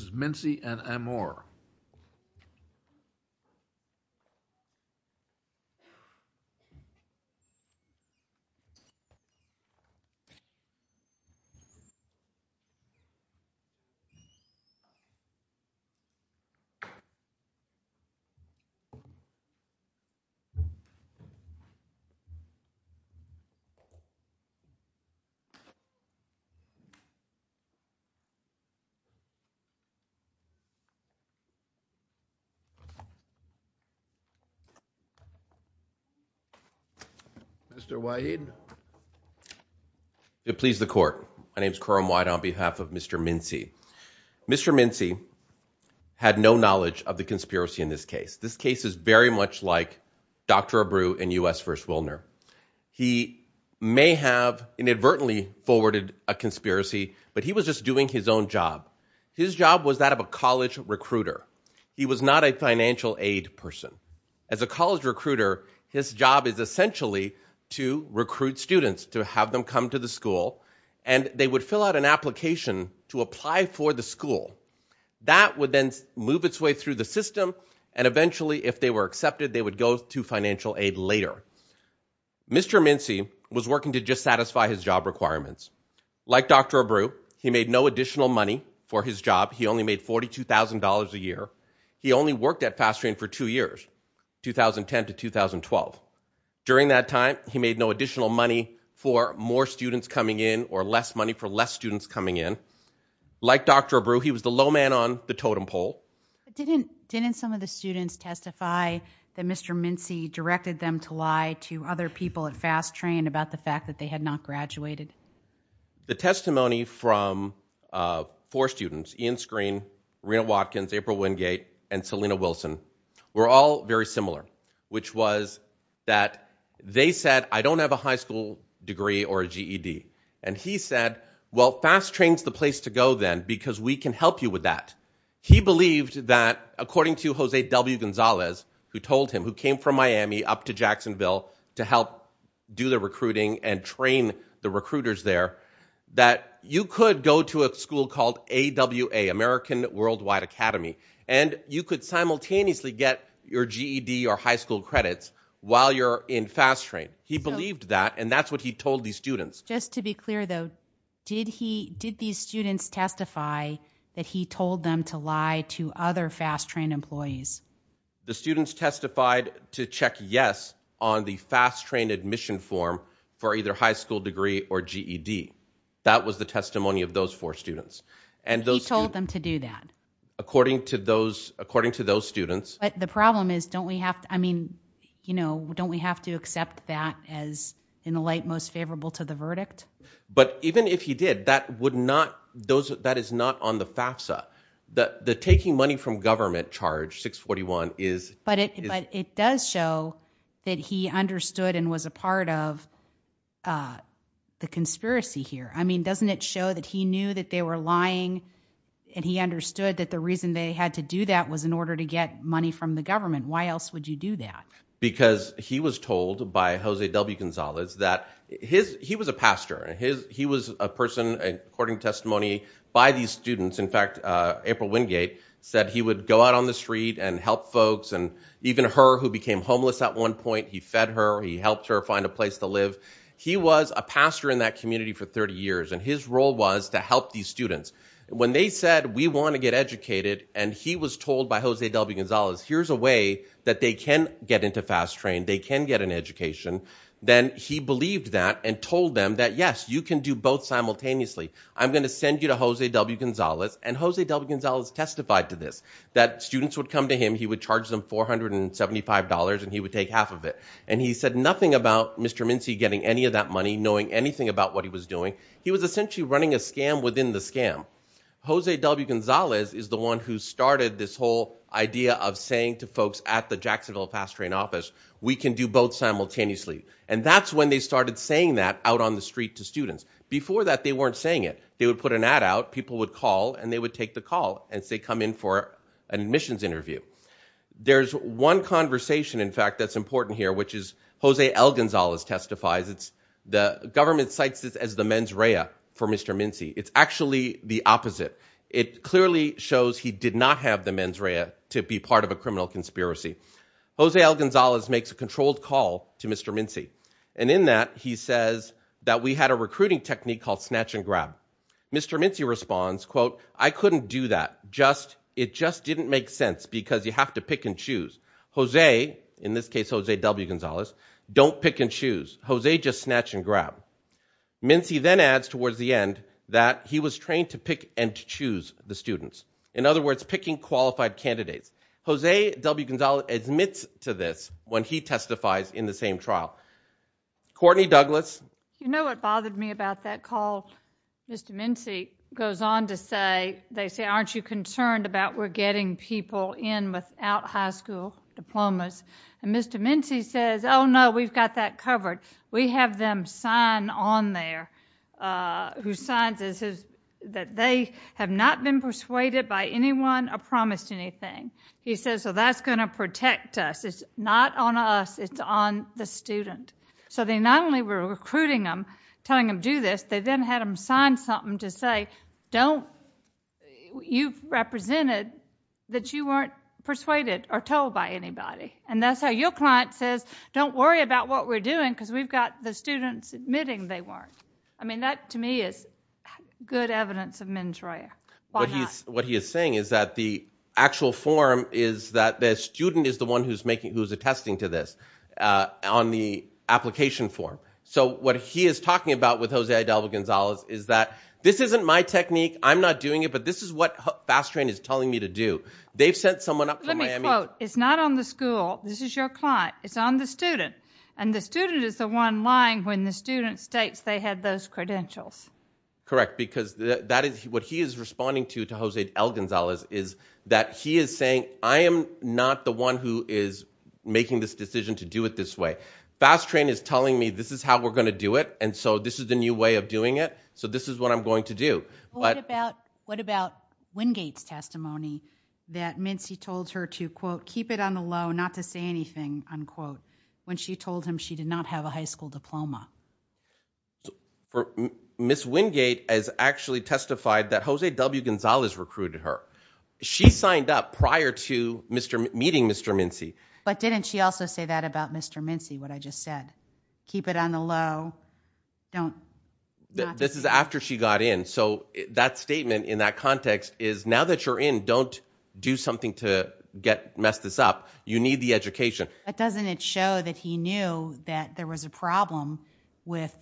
This is Mincy and Amor. Mr. Waheed. It please the court. My name is Karam White on behalf of Mr. Mincy. Mr. Mincy had no knowledge of the conspiracy in this case. This case is very much like Dr. Abreu in U.S. v. Willner. He may have inadvertently forwarded a conspiracy, but he was just doing his own job. His job was that of a college recruiter. He was not a financial aid person. As a college recruiter, his job is essentially to recruit students, to have them come to the school, and they would fill out an application to apply for the school. That would then move its way through the system, and eventually, if they were accepted, they would go to financial aid later. Mr. Mincy was working to just satisfy his job requirements. Like Dr. Abreu, he made no additional money for his job. He only made $42,000 a year. He only worked at Fast Train for two years, 2010 to 2012. During that time, he made no additional money for more students coming in or less money for less students coming in. Like Dr. Abreu, he was the low man on the totem pole. Didn't some of the students testify that Mr. Mincy directed them to lie to other people at Fast Train about the fact that they had not graduated? The testimony from four students, Ian Screen, Rena Watkins, April Wingate, and Selena Wilson, were all very similar, which was that they said, I don't have a high school degree or a GED. And he said, well, Fast Train's the place to go then because we can help you with that. He believed that, according to Jose W. Gonzalez, who told him, who came from Miami up to Jacksonville to help do the recruiting and train the recruiters there, that you could go to a school called AWA, American Worldwide Academy, and you could simultaneously get your GED or high school credits while you're in Fast Train. He believed that, and that's what he told these students. Just to be clear, though, did these students testify that he told them to lie to other Fast Train employees? The students testified to check yes on the Fast Train admission form for either high school degree or GED. That was the testimony of those four students. And he told them to do that? According to those students. But the problem is, don't we have to, I mean, you know, don't we have to accept that as, in a light, most favorable to the verdict? But even if he did, that would not, that is not on the FAFSA. The taking money from government charge, 641, is. But it does show that he understood and was a part of the conspiracy here. I mean, doesn't it show that he knew that they were lying and he understood that the reason they had to do that was in order to get money from the government? Why else would you do that? Because he was told by Jose W. Gonzalez that his, he was a pastor. He was a person, according to testimony, by these students. In fact, April Wingate said he would go out on the street and help folks. And even her, who became homeless at one point, he fed her, he helped her find a place to live. He was a pastor in that community for 30 years. And his role was to help these students. When they said, we want to get educated, and he was told by Jose W. Gonzalez, here's a way that they can get into Fast Train, they can get an education, then he believed that and told them that, yes, you can do both simultaneously. I'm going to send you to Jose W. Gonzalez. And Jose W. Gonzalez testified to this, that students would come to him, he would charge them $475 and he would take half of it. And he said nothing about Mr. Mincy getting any of that money, knowing anything about what he was doing. He was essentially running a scam within the scam. Jose W. Gonzalez is the one who started this whole idea of saying to folks at the Jacksonville Fast Train office, we can do both simultaneously. And that's when they started saying that out on the street to students. Before that, they weren't saying it. They would put an ad out, people would call, and they would take the call as they come in for an admissions interview. There's one conversation, in fact, that's important here, which is Jose L. Gonzalez testifies. The government cites this as the mens rea for Mr. Mincy. It's actually the opposite. It clearly shows he did not have the mens rea to be part of a criminal conspiracy. Jose L. Gonzalez makes a controlled call to Mr. Mincy. And in that, he says that we had a recruiting technique called snatch and grab. Mr. Mincy responds, quote, I couldn't do that. It just didn't make sense because you have to pick and choose. Jose, in this case, Jose W. Gonzalez, don't pick and choose. Jose just snatch and grab. Mincy then adds towards the end that he was trained to pick and choose the students. In other words, picking qualified candidates. Jose W. Gonzalez admits to this when he testifies in the same trial. Courtney Douglas. You know what bothered me about that call? Mr. Mincy goes on to say, they say, aren't you concerned about we're getting people in without high school diplomas? And Mr. Mincy says, oh, no, we've got that covered. We have them sign on there who signs that they have not been persuaded by anyone or promised anything. He says, well, that's going to protect us. It's not on us. It's on the student. So they not only were recruiting them, telling them do this, they then had them sign something to say, don't you've represented that you weren't persuaded or told by anybody. And that's how your client says, don't worry about what we're doing because we've got the students admitting they weren't. I mean, that to me is good evidence of mens rea. What he is saying is that the actual form is that the student is the one who's making who's attesting to this on the application form. So what he is talking about with Hosea Adalva Gonzalez is that this isn't my technique. I'm not doing it, but this is what fast train is telling me to do. They've sent someone up. Let me quote. It's not on the school. This is your client. It's on the student. And the student is the one lying when the student states they had those credentials. Correct, because that is what he is responding to. To Hosea L. Gonzalez is that he is saying I am not the one who is making this decision to do it this way. Fast train is telling me this is how we're going to do it. And so this is the new way of doing it. So this is what I'm going to do. But what about what about Wingate's testimony that Mincy told her to, quote, keep it on the low, not to say anything? Unquote. When she told him she did not have a high school diploma. For Miss Wingate has actually testified that Hosea W. Gonzalez recruited her. She signed up prior to Mr. Meeting Mr. Mincy. But didn't she also say that about Mr. Mincy? What I just said? Keep it on the low. Don't. This is after she got in. So that statement in that context is now that you're in, don't do something to get messed this up. You need the education. But doesn't it show that he knew that there was a problem with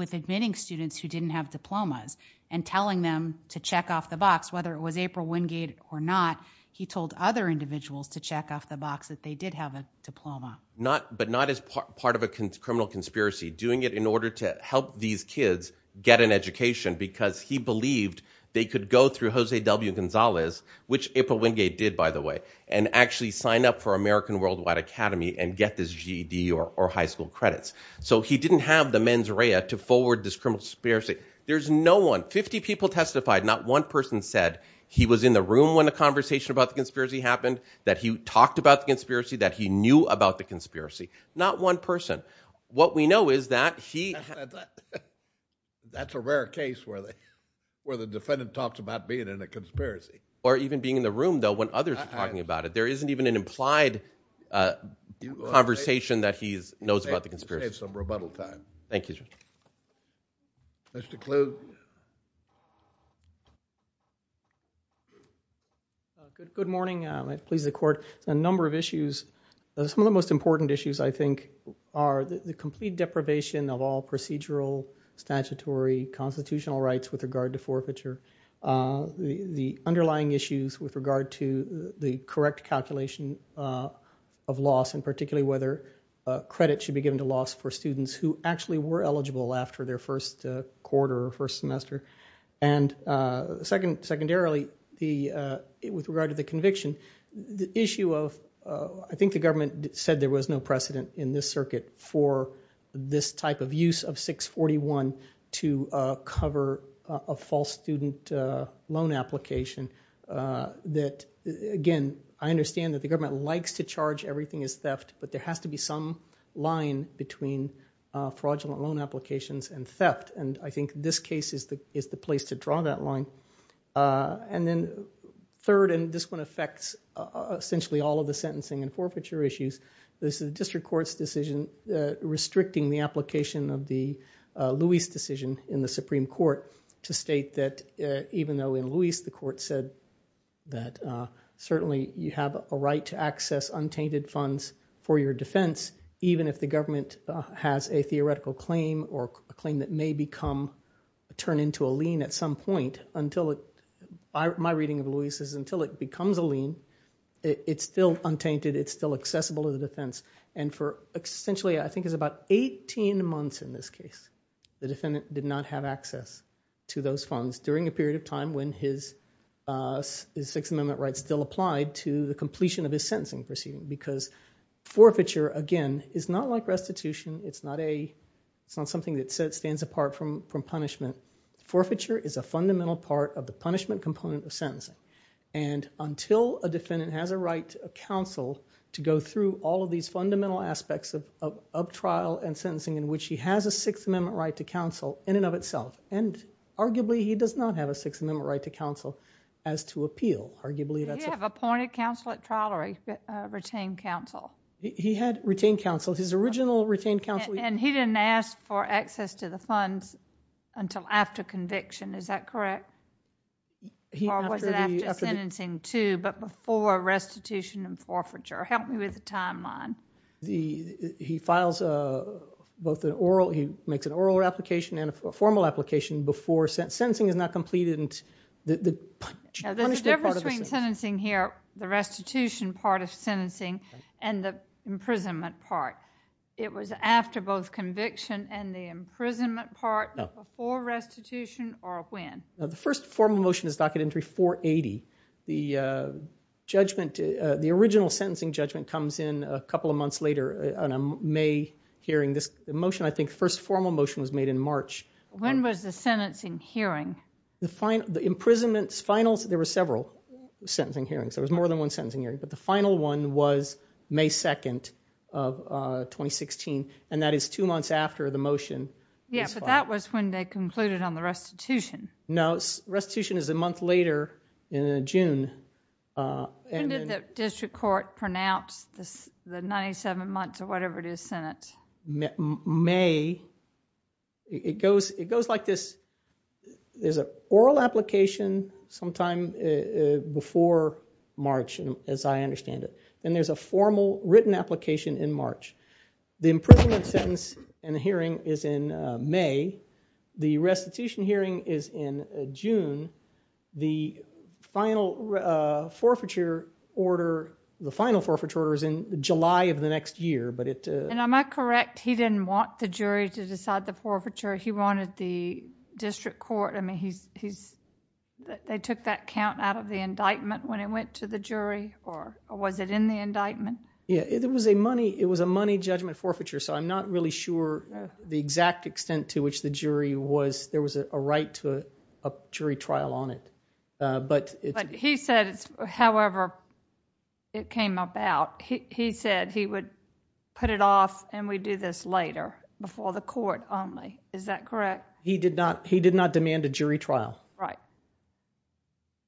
with admitting students who didn't have diplomas and telling them to check off the box, whether it was April Wingate or not. He told other individuals to check off the box that they did have a diploma, not but not as part of a criminal conspiracy, doing it in order to help these kids get an education because he believed they could go through Hosea W. Gonzalez, which April Wingate did, by the way, and actually sign up for American Worldwide Academy and get this GED or high school credits. So he didn't have the mens rea to forward this criminal conspiracy. There's no 150 people testified. Not one person said he was in the room when the conversation about the conspiracy happened, that he talked about the conspiracy, that he knew about the conspiracy. Not one person. But what we know is that he. That's a rare case where the where the defendant talks about being in a conspiracy. Or even being in the room, though, when others are talking about it. There isn't even an implied conversation that he knows about the conspiracy. Some rebuttal time. Thank you. Mr. Kluge. Good morning. Please, the court. A number of issues. Some of the most important issues, I think, are the complete deprivation of all procedural statutory constitutional rights with regard to forfeiture. The underlying issues with regard to the correct calculation of loss, and particularly whether credit should be given to loss for students who actually were eligible after their first quarter or first semester. And secondarily, with regard to the conviction, the issue of, I think the government said there was no precedent in this circuit for this type of use of 641 to cover a false student loan application. That, again, I understand that the government likes to charge everything as theft. But there has to be some line between fraudulent loan applications and theft. And I think this case is the place to draw that line. And then third, and this one affects essentially all of the sentencing and forfeiture issues. This is a district court's decision restricting the application of the Lewis decision in the Supreme Court to state that even though in Lewis the court said that certainly you have a right to access untainted funds for your defense, even if the government has a theoretical claim or a claim that may become turned into a lien at some point. My reading of Lewis is until it becomes a lien, it's still untainted. It's still accessible to the defense. And for essentially, I think it's about 18 months in this case, the defendant did not have access to those funds during a period of time when his Sixth Amendment right still applied to the completion of his sentencing proceeding. Because forfeiture, again, is not like restitution. It's not something that stands apart from punishment. Forfeiture is a fundamental part of the punishment component of sentencing. And until a defendant has a right to counsel to go through all of these fundamental aspects of trial and sentencing in which he has a Sixth Amendment right to counsel in and of itself. And arguably he does not have a Sixth Amendment right to counsel as to appeal. Arguably that's a... He had appointed counsel at trial or retained counsel. His original retained counsel... And he didn't ask for access to the funds until after conviction. Is that correct? Or was it after sentencing too, but before restitution and forfeiture? Help me with the timeline. He files both an oral... he makes an oral application and a formal application before... Sentencing is not completed until... There's a difference between sentencing here, the restitution part of sentencing, and the imprisonment part. It was after both conviction and the imprisonment part, before restitution, or when? The first formal motion is docket entry 480. The judgment... the original sentencing judgment comes in a couple of months later on a May hearing. This motion, I think, first formal motion was made in March. When was the sentencing hearing? The imprisonment's final... there were several sentencing hearings. There was more than one sentencing hearing. But the final one was May 2nd of 2016, and that is two months after the motion was filed. Yeah, but that was when they concluded on the restitution. No, restitution is a month later in June. When did the district court pronounce the 97 months, or whatever it is, Senate? May... I understand it. And there's a formal written application in March. The imprisonment sentence in the hearing is in May. The restitution hearing is in June. The final forfeiture order... the final forfeiture order is in July of the next year, but it... And am I correct, he didn't want the jury to decide the forfeiture? He wanted the district court... I mean, he's... They took that count out of the indictment when it went to the jury, or was it in the indictment? Yeah, it was a money judgment forfeiture, so I'm not really sure the exact extent to which the jury was... There was a right to a jury trial on it, but... But he said, however it came about, he said he would put it off and we'd do this later, before the court only. Is that correct? He did not demand a jury trial. Right.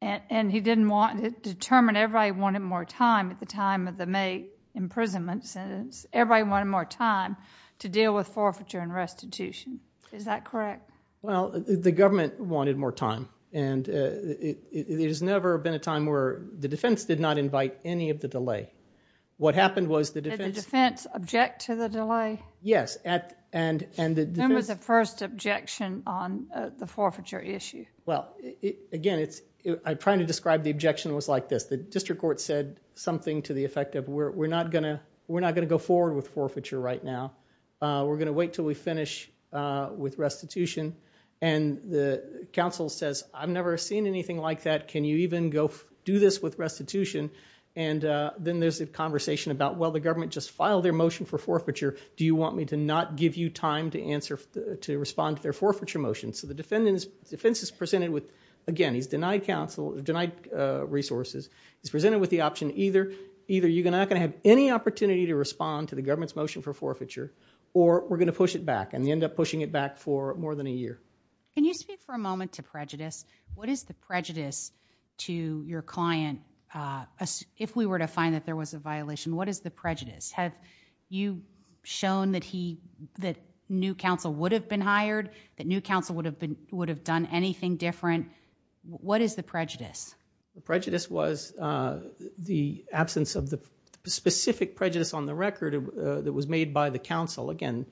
And he didn't want... determined everybody wanted more time at the time of the May imprisonment sentence. Everybody wanted more time to deal with forfeiture and restitution. Is that correct? Well, the government wanted more time, and it has never been a time where the defense did not invite any of the delay. What happened was the defense... Did the defense object to the delay? Yes, and... When was the first objection on the forfeiture issue? Well, again, it's... I'm trying to describe the objection was like this. The district court said something to the effect of, we're not going to go forward with forfeiture right now. We're going to wait until we finish with restitution, and the counsel says, I've never seen anything like that. Can you even go do this with restitution? And then there's a conversation about, well, the government just filed their motion for forfeiture. Do you want me to not give you time to respond to their forfeiture motion? So the defense is presented with... again, he's denied resources. He's presented with the option, either you're not going to have any opportunity to respond to the government's motion for forfeiture, or we're going to push it back, and they end up pushing it back for more than a year. Can you speak for a moment to prejudice? What is the prejudice to your client if we were to find that there was a violation? What is the prejudice? Have you shown that new counsel would have been hired, that new counsel would have done anything different? What is the prejudice? The prejudice was the absence of the specific prejudice on the record that was made by the counsel. Again,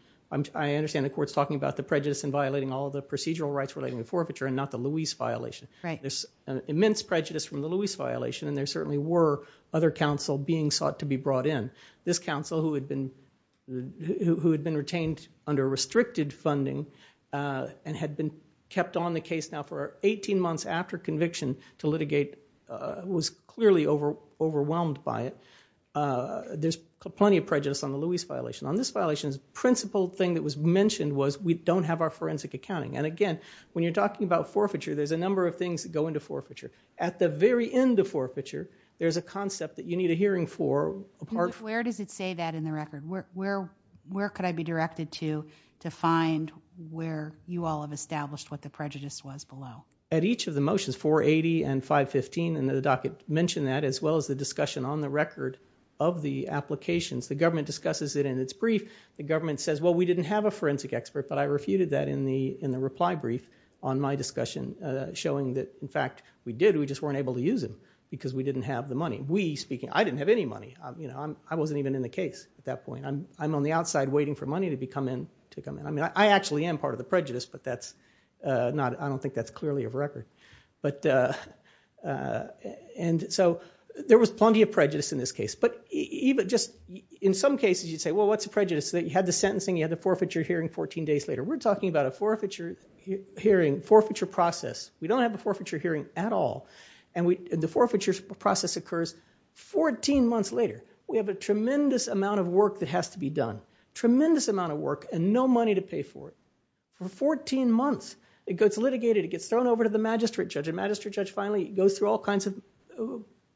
I understand the court's talking about the prejudice in violating all the procedural rights relating to forfeiture and not the Lewis violation. Right. There's immense prejudice from the Lewis violation, and there certainly were other counsel being sought to be brought in. This counsel, who had been retained under restricted funding and had been kept on the case now for 18 months after conviction to litigate, was clearly overwhelmed by it. There's plenty of prejudice on the Lewis violation. On this violation, the principal thing that was mentioned was we don't have our forensic accounting. And again, when you're talking about forfeiture, there's a number of things that go into forfeiture. At the very end of forfeiture, there's a concept that you need a hearing for. Where does it say that in the record? Where could I be directed to find where you all have established what the prejudice was below? At each of the motions, 480 and 515, and the docket mentioned that, as well as the discussion on the record of the applications. The government discusses it in its brief. The government says, well, we didn't have a forensic expert, but I refuted that in the reply brief on my discussion, showing that, in fact, we did. We just weren't able to use him because we didn't have the money. We, speaking, I didn't have any money. I wasn't even in the case at that point. I'm on the outside waiting for money to come in. I actually am part of the prejudice, but I don't think that's clearly of record. There was plenty of prejudice in this case. In some cases, you'd say, well, what's the prejudice? You had the sentencing. You had the forfeiture hearing 14 days later. We're talking about a forfeiture hearing, forfeiture process. We don't have a forfeiture hearing at all, and the forfeiture process occurs 14 months later. We have a tremendous amount of work that has to be done, tremendous amount of work and no money to pay for it. For 14 months, it gets litigated. It gets thrown over to the magistrate judge, and the magistrate judge finally goes through all kinds of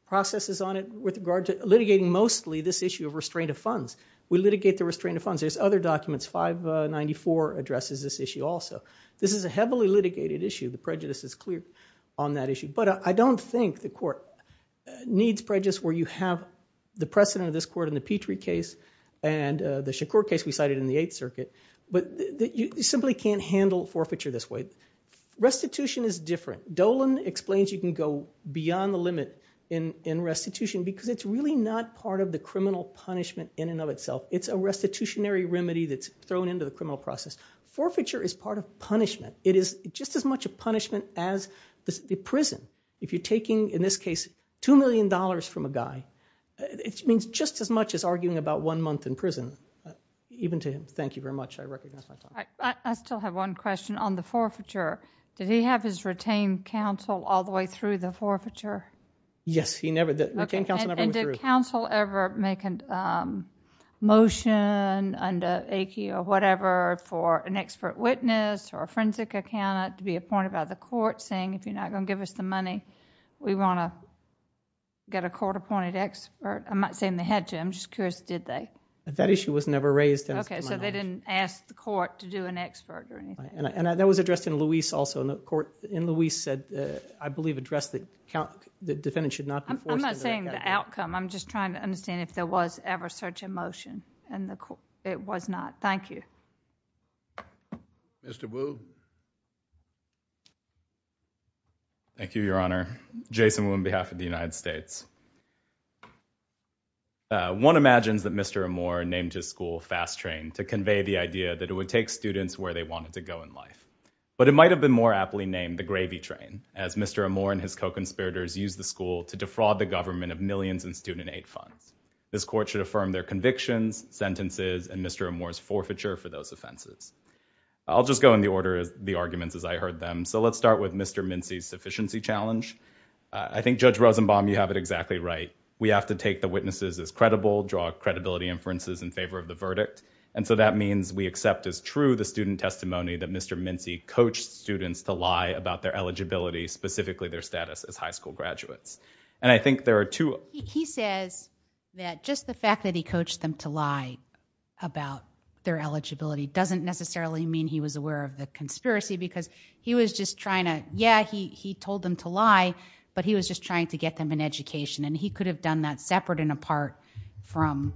processes on it with regard to litigating mostly this issue of restraint of funds. We litigate the restraint of funds. There's other documents. 594 addresses this issue also. This is a heavily litigated issue. The prejudice is clear on that issue. But I don't think the court needs prejudice where you have the precedent of this court in the Petrie case and the Shakur case we cited in the Eighth Circuit, but you simply can't handle forfeiture this way. Restitution is different. Dolan explains you can go beyond the limit in restitution because it's really not part of the criminal punishment in and of itself. It's a restitutionary remedy that's thrown into the criminal process. Forfeiture is part of punishment. It is just as much a punishment as the prison. If you're taking, in this case, $2 million from a guy, it means just as much as arguing about one month in prison, even to him. Thank you very much. I recognize my time. I still have one question on the forfeiture. Did he have his retained counsel all the way through the forfeiture? Yes, he never did. The retained counsel never went through. Did the counsel ever make a motion under Aiki or whatever for an expert witness or a forensic accountant to be appointed by the court saying, if you're not going to give us the money, we want to get a court-appointed expert? I'm not saying they had to. I'm just curious, did they? That issue was never raised. Okay, so they didn't ask the court to do an expert or anything. And that was addressed in Louise also. I'm not saying the outcome. I'm just trying to understand if there was ever such a motion. It was not. Thank you. Mr. Wu. Thank you, Your Honor. Jason Wu on behalf of the United States. One imagines that Mr. Amor named his school Fast Train to convey the idea that it would take students where they wanted to go in life. But it might have been more aptly named the Gravy Train, as Mr. Amor and his co-conspirators used the school to defraud the government of millions in student aid funds. This court should affirm their convictions, sentences, and Mr. Amor's forfeiture for those offenses. I'll just go in the order of the arguments as I heard them. So let's start with Mr. Mincy's sufficiency challenge. I think, Judge Rosenbaum, you have it exactly right. We have to take the witnesses as credible, draw credibility inferences in favor of the verdict. And so that means we accept as true the student testimony that Mr. Mincy coached students to lie about their eligibility, specifically their status as high school graduates. And I think there are two. He says that just the fact that he coached them to lie about their eligibility doesn't necessarily mean he was aware of the conspiracy because he was just trying to, yeah, he told them to lie, but he was just trying to get them an education. And he could have done that separate and apart from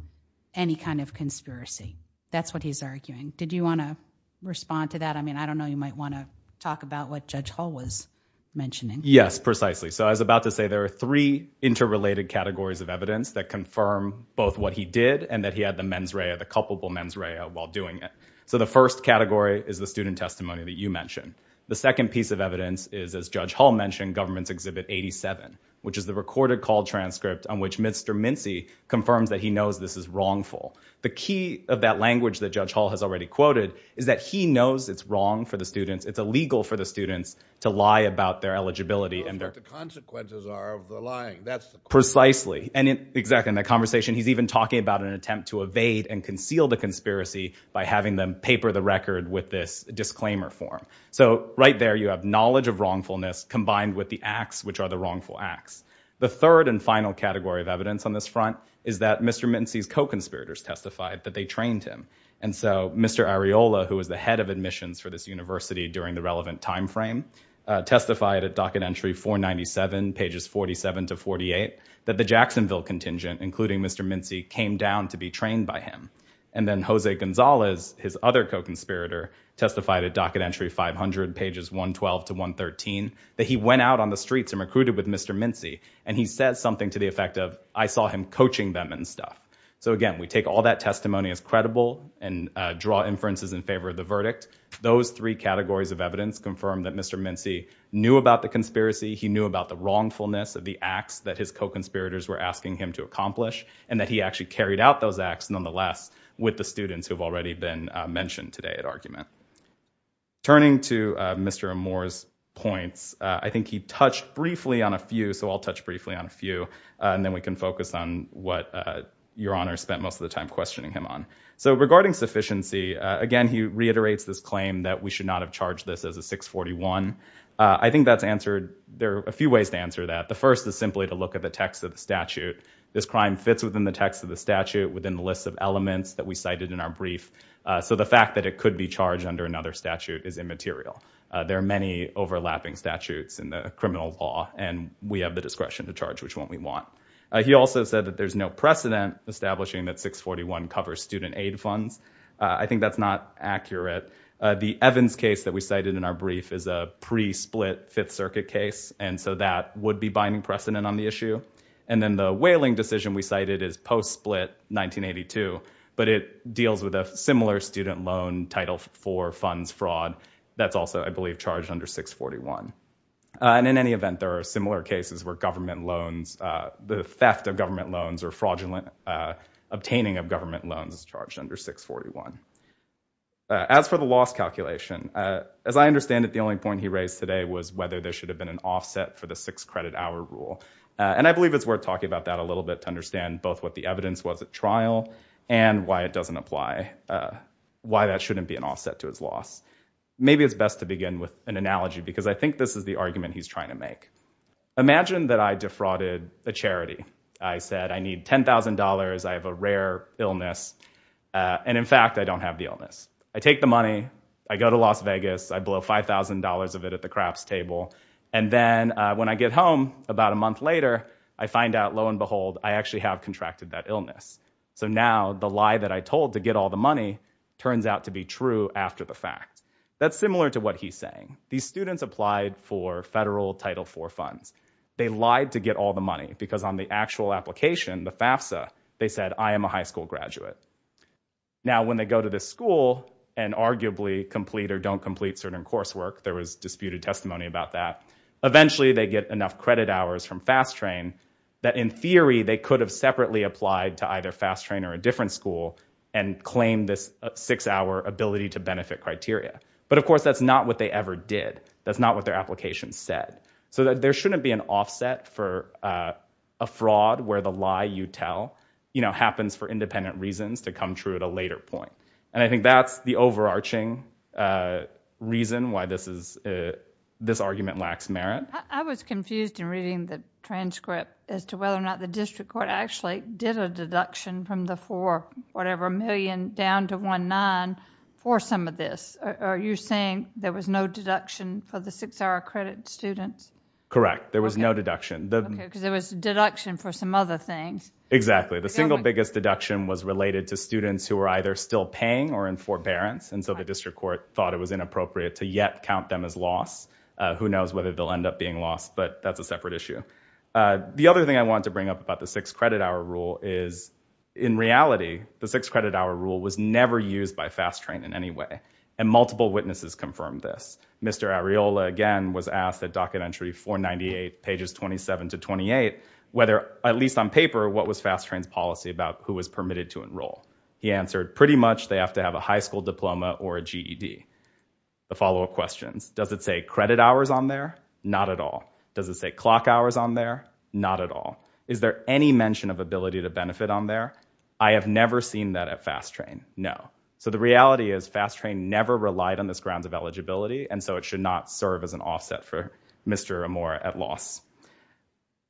any kind of conspiracy. That's what he's arguing. Did you want to respond to that? I mean, I don't know. You might want to talk about what Judge Hull was mentioning. Yes, precisely. So I was about to say there are three interrelated categories of evidence that confirm both what he did and that he had the mens rea, the culpable mens rea, while doing it. So the first category is the student testimony that you mentioned. The second piece of evidence is, as Judge Hull mentioned, Government's Exhibit 87, which is the recorded call transcript on which Mr. Mincy confirms that he knows this is wrongful. The key of that language that Judge Hull has already quoted is that he knows it's wrong for the students, it's illegal for the students to lie about their eligibility. He knows what the consequences are of the lying. Precisely. Exactly. In that conversation, he's even talking about an attempt to evade and conceal the conspiracy by having them paper the record with this disclaimer form. So right there you have knowledge of wrongfulness combined with the acts which are the wrongful acts. The third and final category of evidence on this front is that Mr. Mincy's co-conspirators testified that they trained him. And so Mr. Areola, who was the head of admissions for this university during the relevant time frame, testified at docket entry 497, pages 47 to 48, that the Jacksonville contingent, including Mr. Mincy, came down to be trained by him. And then Jose Gonzalez, his other co-conspirator, testified at docket entry 500, pages 112 to 113, that he went out on the streets and recruited with Mr. Mincy, and he said something to the effect of, I saw him coaching them and stuff. So again, we take all that testimony as credible and draw inferences in favor of the verdict. Those three categories of evidence confirm that Mr. Mincy knew about the conspiracy, he knew about the wrongfulness of the acts that his co-conspirators were asking him to accomplish, and that he actually carried out those acts nonetheless with the students who have already been mentioned today at argument. Turning to Mr. Moore's points, I think he touched briefly on a few, so I'll touch briefly on a few, and then we can focus on what Your Honor spent most of the time questioning him on. So regarding sufficiency, again, he reiterates this claim that we should not have charged this as a 641. I think that's answered, there are a few ways to answer that. The first is simply to look at the text of the statute. This crime fits within the text of the statute, within the list of elements that we cited in our brief, so the fact that it could be charged under another statute is immaterial. There are many overlapping statutes in the criminal law, and we have the discretion to charge which one we want. He also said that there's no precedent establishing that 641 covers student aid funds. I think that's not accurate. The Evans case that we cited in our brief is a pre-split Fifth Circuit case, and so that would be binding precedent on the issue. And then the Whaling decision we cited is post-split 1982, but it deals with a similar student loan Title IV funds fraud that's also, I believe, charged under 641. And in any event, there are similar cases where government loans, the theft of government loans, or obtaining of government loans is charged under 641. As for the loss calculation, as I understand it, the only point he raised today was whether there should have been an offset for the six-credit-hour rule. And I believe it's worth talking about that a little bit to understand both what the evidence was at trial and why it doesn't apply, why that shouldn't be an offset to his loss. Maybe it's best to begin with an analogy, because I think this is the argument he's trying to make. Imagine that I defrauded a charity. I said I need $10,000, I have a rare illness, and in fact I don't have the illness. I take the money, I go to Las Vegas, I blow $5,000 of it at the craps table, and then when I get home about a month later, I find out, lo and behold, I actually have contracted that illness. So now the lie that I told to get all the money turns out to be true after the fact. That's similar to what he's saying. These students applied for federal Title IV funds. They lied to get all the money, because on the actual application, the FAFSA, they said, I am a high school graduate. Now, when they go to this school and arguably complete or don't complete certain coursework, there was disputed testimony about that, eventually they get enough credit hours from Fast Train that in theory they could have separately applied to either Fast Train or a different school and claimed this six-hour ability-to-benefit criteria. But of course that's not what they ever did. That's not what their application said. So there shouldn't be an offset for a fraud where the lie you tell happens for independent reasons to come true at a later point. And I think that's the overarching reason why this argument lacks merit. I was confused in reading the transcript as to whether or not the district court actually did a deduction from the $4-whatever-million down to $1.9 for some of this. Are you saying there was no deduction for the six-hour credit students? Correct. There was no deduction. Okay, because there was a deduction for some other things. Exactly. The single biggest deduction was related to students who were either still paying or in forbearance, and so the district court thought it was inappropriate to yet count them as lost. Who knows whether they'll end up being lost, but that's a separate issue. The other thing I want to bring up about the six-credit-hour rule is, in reality, the six-credit-hour rule was never used by Fast Train in any way, and multiple witnesses confirmed this. Mr. Areola, again, was asked at docket entry 498, pages 27 to 28, whether, at least on paper, what was Fast Train's policy about who was permitted to enroll. He answered, pretty much they have to have a high school diploma or a GED. The follow-up questions, does it say credit hours on there? Not at all. Does it say clock hours on there? Not at all. Is there any mention of ability to benefit on there? I have never seen that at Fast Train. No. So the reality is Fast Train never relied on this grounds of eligibility, and so it should not serve as an offset for Mr. Amor at loss.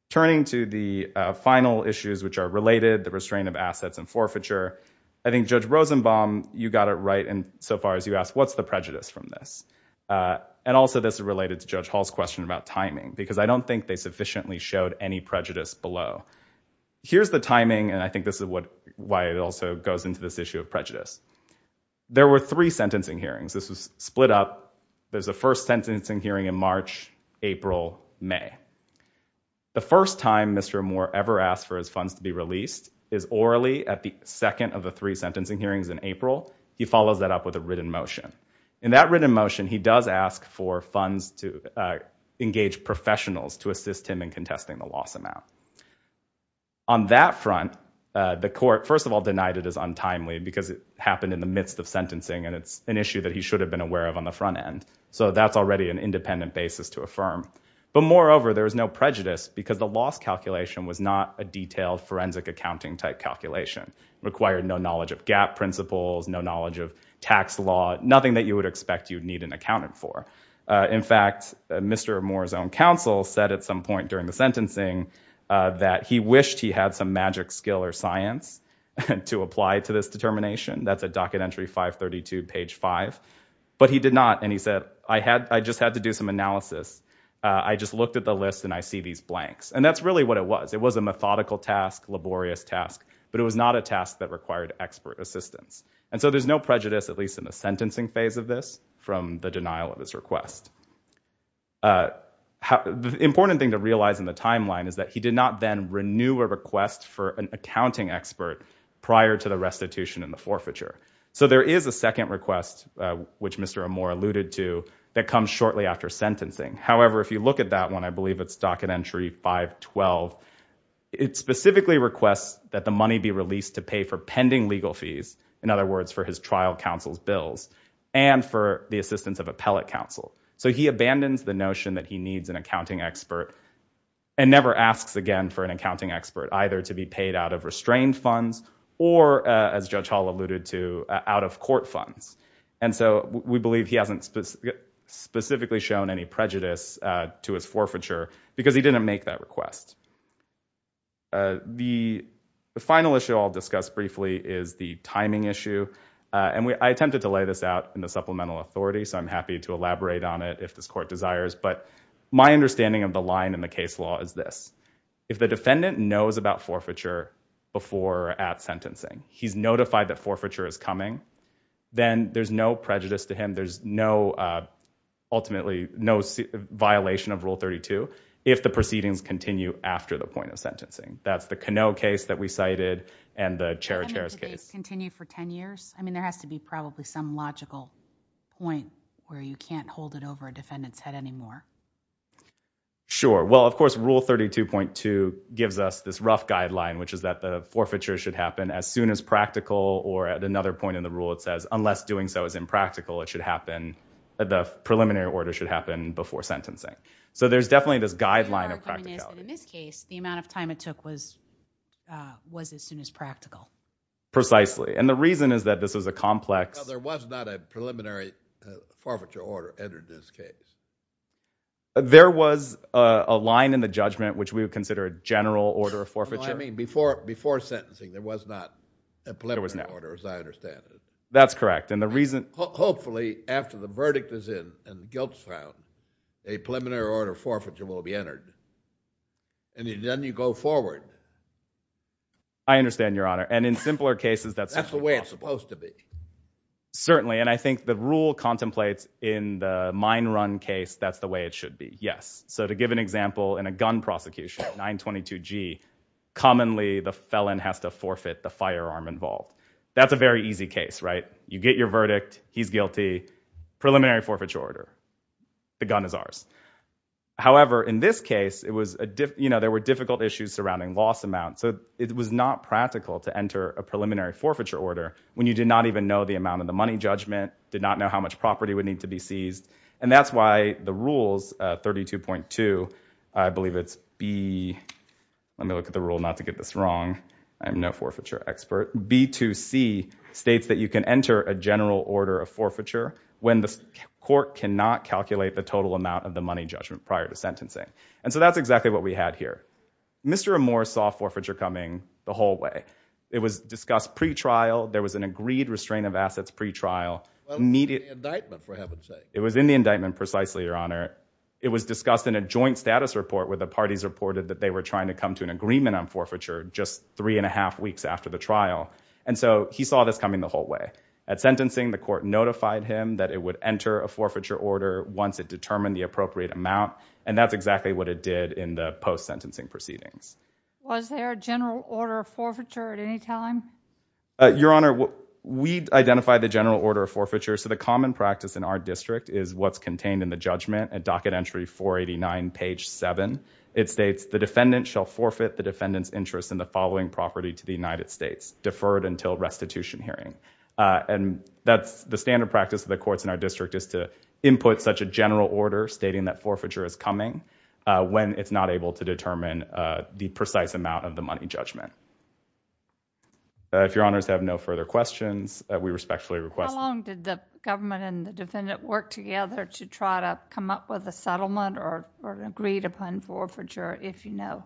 Turning to the final issues which are related, the restraint of assets and forfeiture, I think Judge Rosenbaum, you got it right insofar as you asked, what's the prejudice from this? And also this is related to Judge Hall's question about timing, because I don't think they sufficiently showed any prejudice below. Here's the timing, and I think this is why it also goes into this issue of prejudice. There were three sentencing hearings. This was split up. There's a first sentencing hearing in March, April, May. The first time Mr. Amor ever asked for his funds to be released is orally at the second of the three sentencing hearings in April. He follows that up with a written motion. In that written motion, he does ask for funds to engage professionals to assist him in contesting the loss amount. On that front, the court, first of all, denied it as untimely because it happened in the midst of sentencing, and it's an issue that he should have been aware of on the front end. So that's already an independent basis to affirm. But moreover, there was no prejudice because the loss calculation was not a detailed forensic accounting type calculation. It required no knowledge of gap principles, no knowledge of tax law, nothing that you would expect you'd need an accountant for. In fact, Mr. Amor's own counsel said at some point during the sentencing that he wished he had some magic skill or science to apply to this determination. That's at docket entry 532, page 5. But he did not, and he said, I just had to do some analysis. I just looked at the list, and I see these blanks. And that's really what it was. It was a methodical task, laborious task, but it was not a task that required expert assistance. And so there's no prejudice, at least in the sentencing phase of this, from the denial of his request. The important thing to realize in the timeline is that he did not then renew a request for an accounting expert prior to the restitution and the forfeiture. So there is a second request, which Mr. Amor alluded to, that comes shortly after sentencing. However, if you look at that one, I believe it's docket entry 512, it specifically requests that the money be released to pay for pending legal fees, in other words, for his trial counsel's bills, and for the assistance of appellate counsel. So he abandons the notion that he needs an accounting expert and never asks again for an accounting expert, either to be paid out of restrained funds or, as Judge Hall alluded to, out of court funds. And so we believe he hasn't specifically shown any prejudice to his forfeiture because he didn't make that request. The final issue I'll discuss briefly is the timing issue. I attempted to lay this out in the supplemental authority, so I'm happy to elaborate on it if this court desires, but my understanding of the line in the case law is this. If the defendant knows about forfeiture before at sentencing, he's notified that forfeiture is coming, then there's no prejudice to him. There's no violation of Rule 32 if the proceedings continue after the point of sentencing. That's the Canoe case that we cited and the Chair of Chairs case. I mean, there has to be probably some logical point where you can't hold it over a defendant's head anymore. Sure. Well, of course, Rule 32.2 gives us this rough guideline, which is that the forfeiture should happen as soon as practical, or at another point in the rule it says, unless doing so is impractical, it should happen, the preliminary order should happen before sentencing. So there's definitely this guideline of practicality. In this case, the amount of time it took was as soon as practical. Precisely, and the reason is that this is a complex... There was not a preliminary forfeiture order entered in this case. There was a line in the judgment which we would consider a general order of forfeiture. I mean, before sentencing, there was not a preliminary order, as I understand it. That's correct, and the reason... Hopefully, after the verdict is in and guilt is found, a preliminary order of forfeiture will be entered, and then you go forward. I understand, Your Honor, and in simpler cases, that's... That's the way it's supposed to be. Certainly, and I think the rule contemplates in the mine run case that's the way it should be, yes. So to give an example, in a gun prosecution, 922G, commonly the felon has to forfeit the firearm involved. That's a very easy case, right? You get your verdict. He's guilty. Preliminary forfeiture order. The gun is ours. However, in this case, there were difficult issues surrounding loss amount, so it was not practical to enter a preliminary forfeiture order when you did not even know the amount of the money judgment, did not know how much property would need to be seized, and that's why the rules, 32.2, I believe it's B... Let me look at the rule not to get this wrong. I'm no forfeiture expert. B2C states that you can enter a general order of forfeiture when the court cannot calculate the total amount of the money judgment prior to sentencing, and so that's exactly what we had here. Mr. Amor saw forfeiture coming the whole way. It was discussed pretrial. There was an agreed restraint of assets pretrial. Well, it was in the indictment, for heaven's sake. It was in the indictment precisely, Your Honor. It was discussed in a joint status report where the parties reported that they were trying to come to an agreement on forfeiture just three and a half weeks after the trial, and so he saw this coming the whole way. At sentencing, the court notified him that it would enter a forfeiture order once it determined the appropriate amount, and that's exactly what it did in the post-sentencing proceedings. Was there a general order of forfeiture at any time? Your Honor, we identified the general order of forfeiture. So the common practice in our district is what's contained in the judgment at docket entry 489, page 7. It states, the defendant shall forfeit the defendant's interest in the following property to the United States, deferred until restitution hearing, and that's the standard practice of the courts in our district is to input such a general order stating that forfeiture is coming when it's not able to determine the precise amount of the money judgment. If Your Honors have no further questions, we respectfully request. How long did the government and the defendant work together to try to come up with a settlement or agreed upon forfeiture, if you know?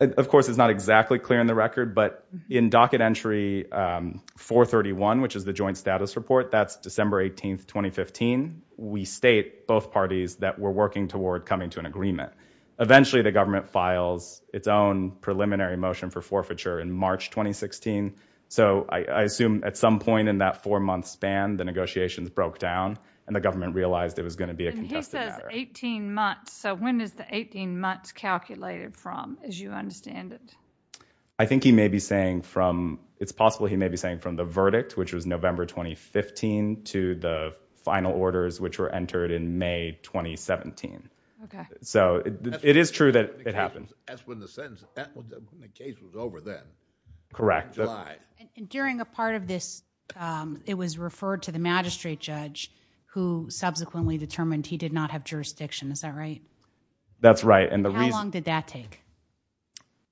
Of course, it's not exactly clear in the record, but in docket entry 431, which is the joint status report, that's December 18, 2015, we state, both parties, that we're working toward coming to an agreement. Eventually, the government files its own preliminary motion for forfeiture in March 2016. So I assume at some point in that four-month span, the negotiations broke down, and the government realized it was going to be a contested matter. And he says 18 months, so when is the 18 months calculated from, as you understand it? I think he may be saying from, it's possible he may be saying from the verdict, which was November 2015, to the final orders, which were entered in May 2017. Okay. So it is true that it happened. That's when the sentence, when the case was over then. Correct. And during a part of this, it was referred to the magistrate judge, who subsequently determined he did not have jurisdiction, is that right? That's right. How long did that take?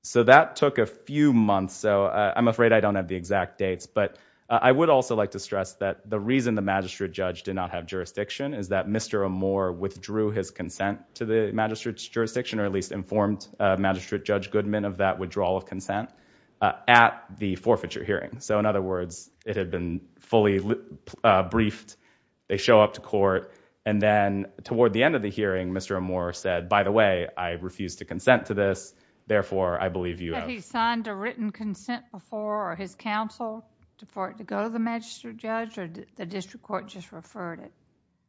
So that took a few months, so I'm afraid I don't have the exact dates. But I would also like to stress that the reason the magistrate judge did not have jurisdiction or at least informed Magistrate Judge Goodman of that withdrawal of consent, at the forfeiture hearing. So in other words, it had been fully briefed, they show up to court, and then toward the end of the hearing, Mr. Amore said, by the way, I refuse to consent to this, therefore I believe you have... Had he signed a written consent before, or his counsel, for it to go to the magistrate judge, or did the district court just refer it?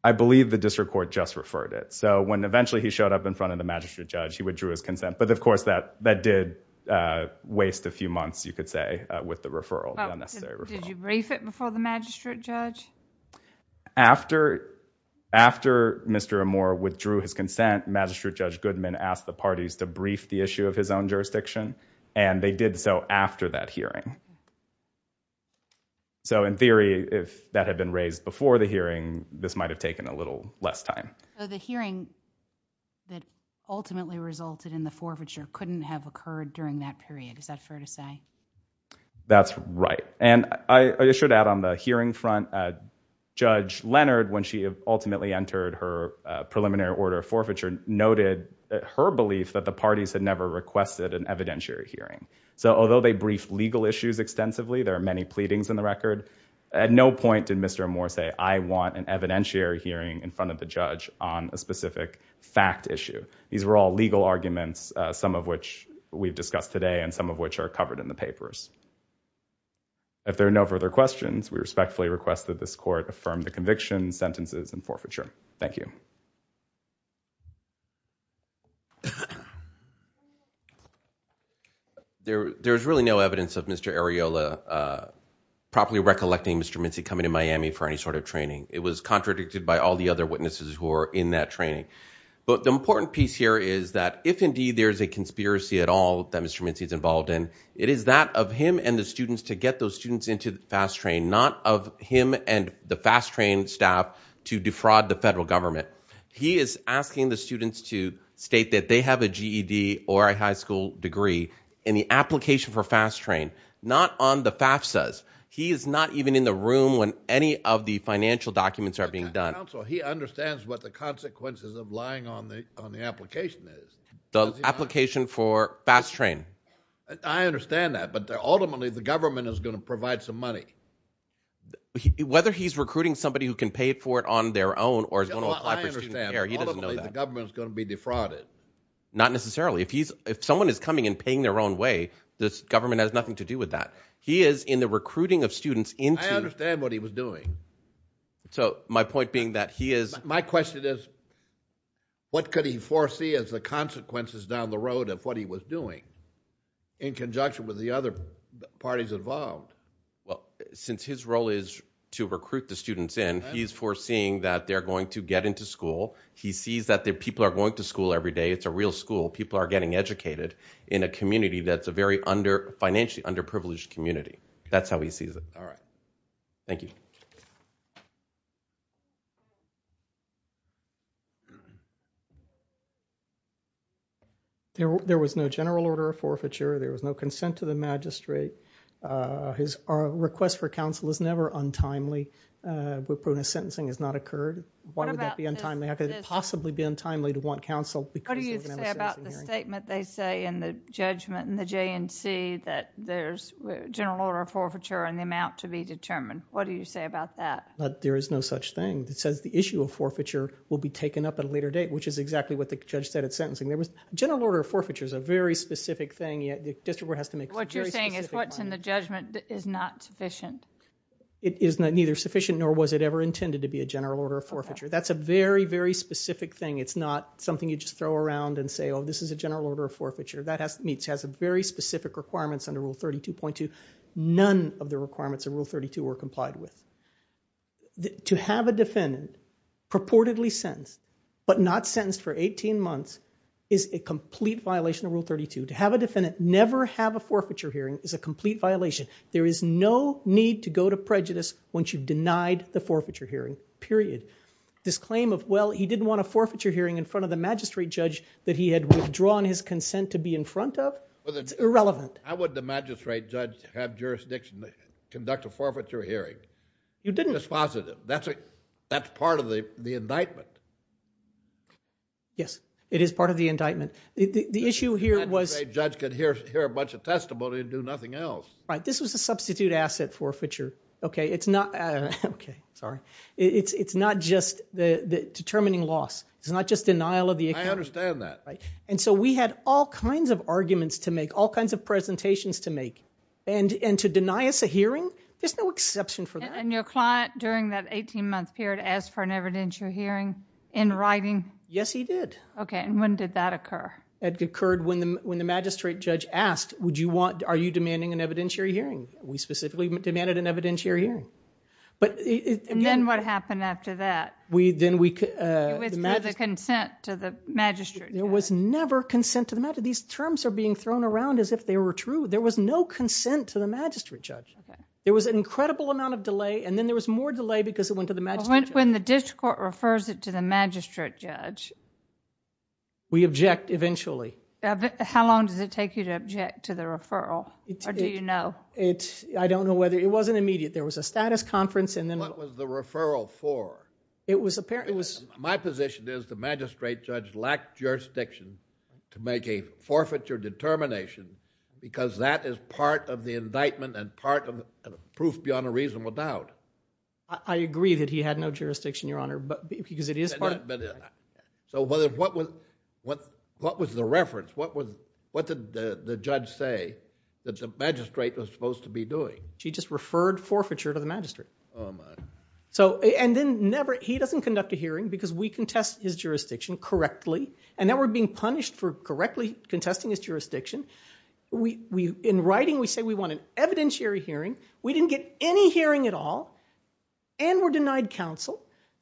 I believe the district court just referred it. So when eventually he showed up in front of the magistrate judge, he withdrew his consent. But of course that did waste a few months, you could say, with the referral, the unnecessary referral. Did you brief it before the magistrate judge? After Mr. Amore withdrew his consent, Magistrate Judge Goodman asked the parties to brief the issue of his own jurisdiction, and they did so after that hearing. So in theory, if that had been raised before the hearing, this might have taken a little less time. So the hearing that ultimately resulted in the forfeiture couldn't have occurred during that period. Is that fair to say? That's right. And I should add on the hearing front, Judge Leonard, when she ultimately entered her preliminary order of forfeiture, noted her belief that the parties had never requested an evidentiary hearing. So although they briefed legal issues extensively, there are many pleadings in the record, at no point did Mr. Amore say, I want an evidentiary hearing in front of the judge on a specific fact issue. These were all legal arguments, some of which we've discussed today and some of which are covered in the papers. If there are no further questions, we respectfully request that this court affirm the conviction, sentences, and forfeiture. Thank you. There's really no evidence of Mr. Areola properly recollecting Mr. Mincy coming to Miami for any sort of training. It was contradicted by all the other witnesses who were in that training. But the important piece here is that if indeed there is a conspiracy at all that Mr. Mincy is involved in, it is that of him and the students to get those students into the fast train, not of him and the fast train staff to defraud the federal government. He is asking the students to state that they have a GED or a high school degree in the application for fast train, not on the FAFSAs. He is not even in the room when any of the financial documents are being done. Counsel, he understands what the consequences of lying on the application is. The application for fast train. I understand that, but ultimately the government is going to provide some money. Whether he's recruiting somebody who can pay for it on their own or is going to apply for student care, he doesn't know that. Ultimately the government is going to be defrauded. Not necessarily. If someone is coming and paying their own way, the government has nothing to do with that. He is in the recruiting of students into. I understand what he was doing. My point being that he is. My question is, what could he foresee as the consequences down the road of what he was doing in conjunction with the other parties involved? Since his role is to recruit the students in, he's foreseeing that they're going to get into school. He sees that people are going to school every day. It's a real school. People are getting educated in a community that's a very financially underprivileged community. That's how he sees it. All right. Thank you. There was no general order of forfeiture. There was no consent to the magistrate. A request for counsel is never untimely. Sentencing has not occurred. Why would that be untimely? How could it possibly be untimely to want counsel? What do you say about the statement they say in the judgment in the JNC that there's general order of forfeiture and the amount to be determined? What do you say about that? There is no such thing. It says the issue of forfeiture will be taken up at a later date, which is exactly what the judge said at sentencing. General order of forfeiture is a very specific thing. The district court has to make it very specific. What you're saying is what's in the judgment is not sufficient? It is neither sufficient nor was it ever intended to be a general order of forfeiture. That's a very, very specific thing. It's not something you just throw around and say, oh, this is a general order of forfeiture. It has very specific requirements under Rule 32.2. None of the requirements of Rule 32 were complied with. To have a defendant purportedly sentenced but not sentenced for 18 months is a complete violation of Rule 32. To have a defendant never have a forfeiture hearing is a complete violation. There is no need to go to prejudice once you've denied the forfeiture hearing, period. This claim of, well, he didn't want a forfeiture hearing in front of the magistrate judge that he had withdrawn his consent to be in front of, it's irrelevant. How would the magistrate judge have jurisdiction to conduct a forfeiture hearing? You didn't. That's positive. That's part of the indictment. Yes, it is part of the indictment. The issue here was – The magistrate judge could hear a bunch of testimony and do nothing else. Right. This was a substitute asset forfeiture. Okay. Sorry. It's not just determining loss. It's not just denial of the account. I understand that. So we had all kinds of arguments to make, all kinds of presentations to make. To deny us a hearing, there's no exception for that. Your client, during that 18-month period, asked for an evidentiary hearing in writing? Yes, he did. Okay. When did that occur? It occurred when the magistrate judge asked, are you demanding an evidentiary hearing? We specifically demanded an evidentiary hearing. And then what happened after that? Then we – It was through the consent to the magistrate judge. There was never consent to the magistrate judge. These terms are being thrown around as if they were true. There was no consent to the magistrate judge. Okay. There was an incredible amount of delay, and then there was more delay because it went to the magistrate judge. When the district court refers it to the magistrate judge – We object eventually. How long does it take you to object to the referral? Or do you know? I don't know whether – It wasn't immediate. There was a status conference and then – What was the referral for? It was – My position is the magistrate judge lacked jurisdiction to make a forfeiture determination because that is part of the indictment and part of the proof beyond a reasonable doubt. I agree that he had no jurisdiction, Your Honor, because it is part of – So what was the reference? What did the judge say that the magistrate was supposed to be doing? She just referred forfeiture to the magistrate. Oh, my. And then he doesn't conduct a hearing because we contest his jurisdiction correctly, and then we're being punished for correctly contesting his jurisdiction. In writing, we say we want an evidentiary hearing. We didn't get any hearing at all and were denied counsel.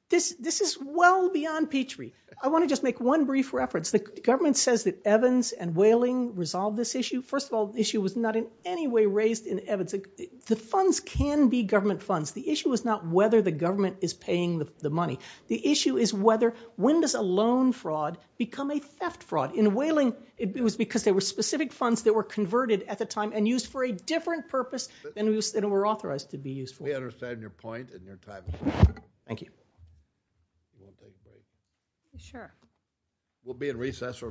This is well beyond Petrie. I want to just make one brief reference. The government says that Evans and Whaling resolved this issue. First of all, the issue was not in any way raised in Evans. The funds can be government funds. The issue was not whether the government is paying the money. The issue is whether when does a loan fraud become a theft fraud. In Whaling, it was because there were specific funds that were converted at the time and used for a different purpose than were authorized to be used for. We understand your point and your time. Thank you. Sure. We'll be in recess.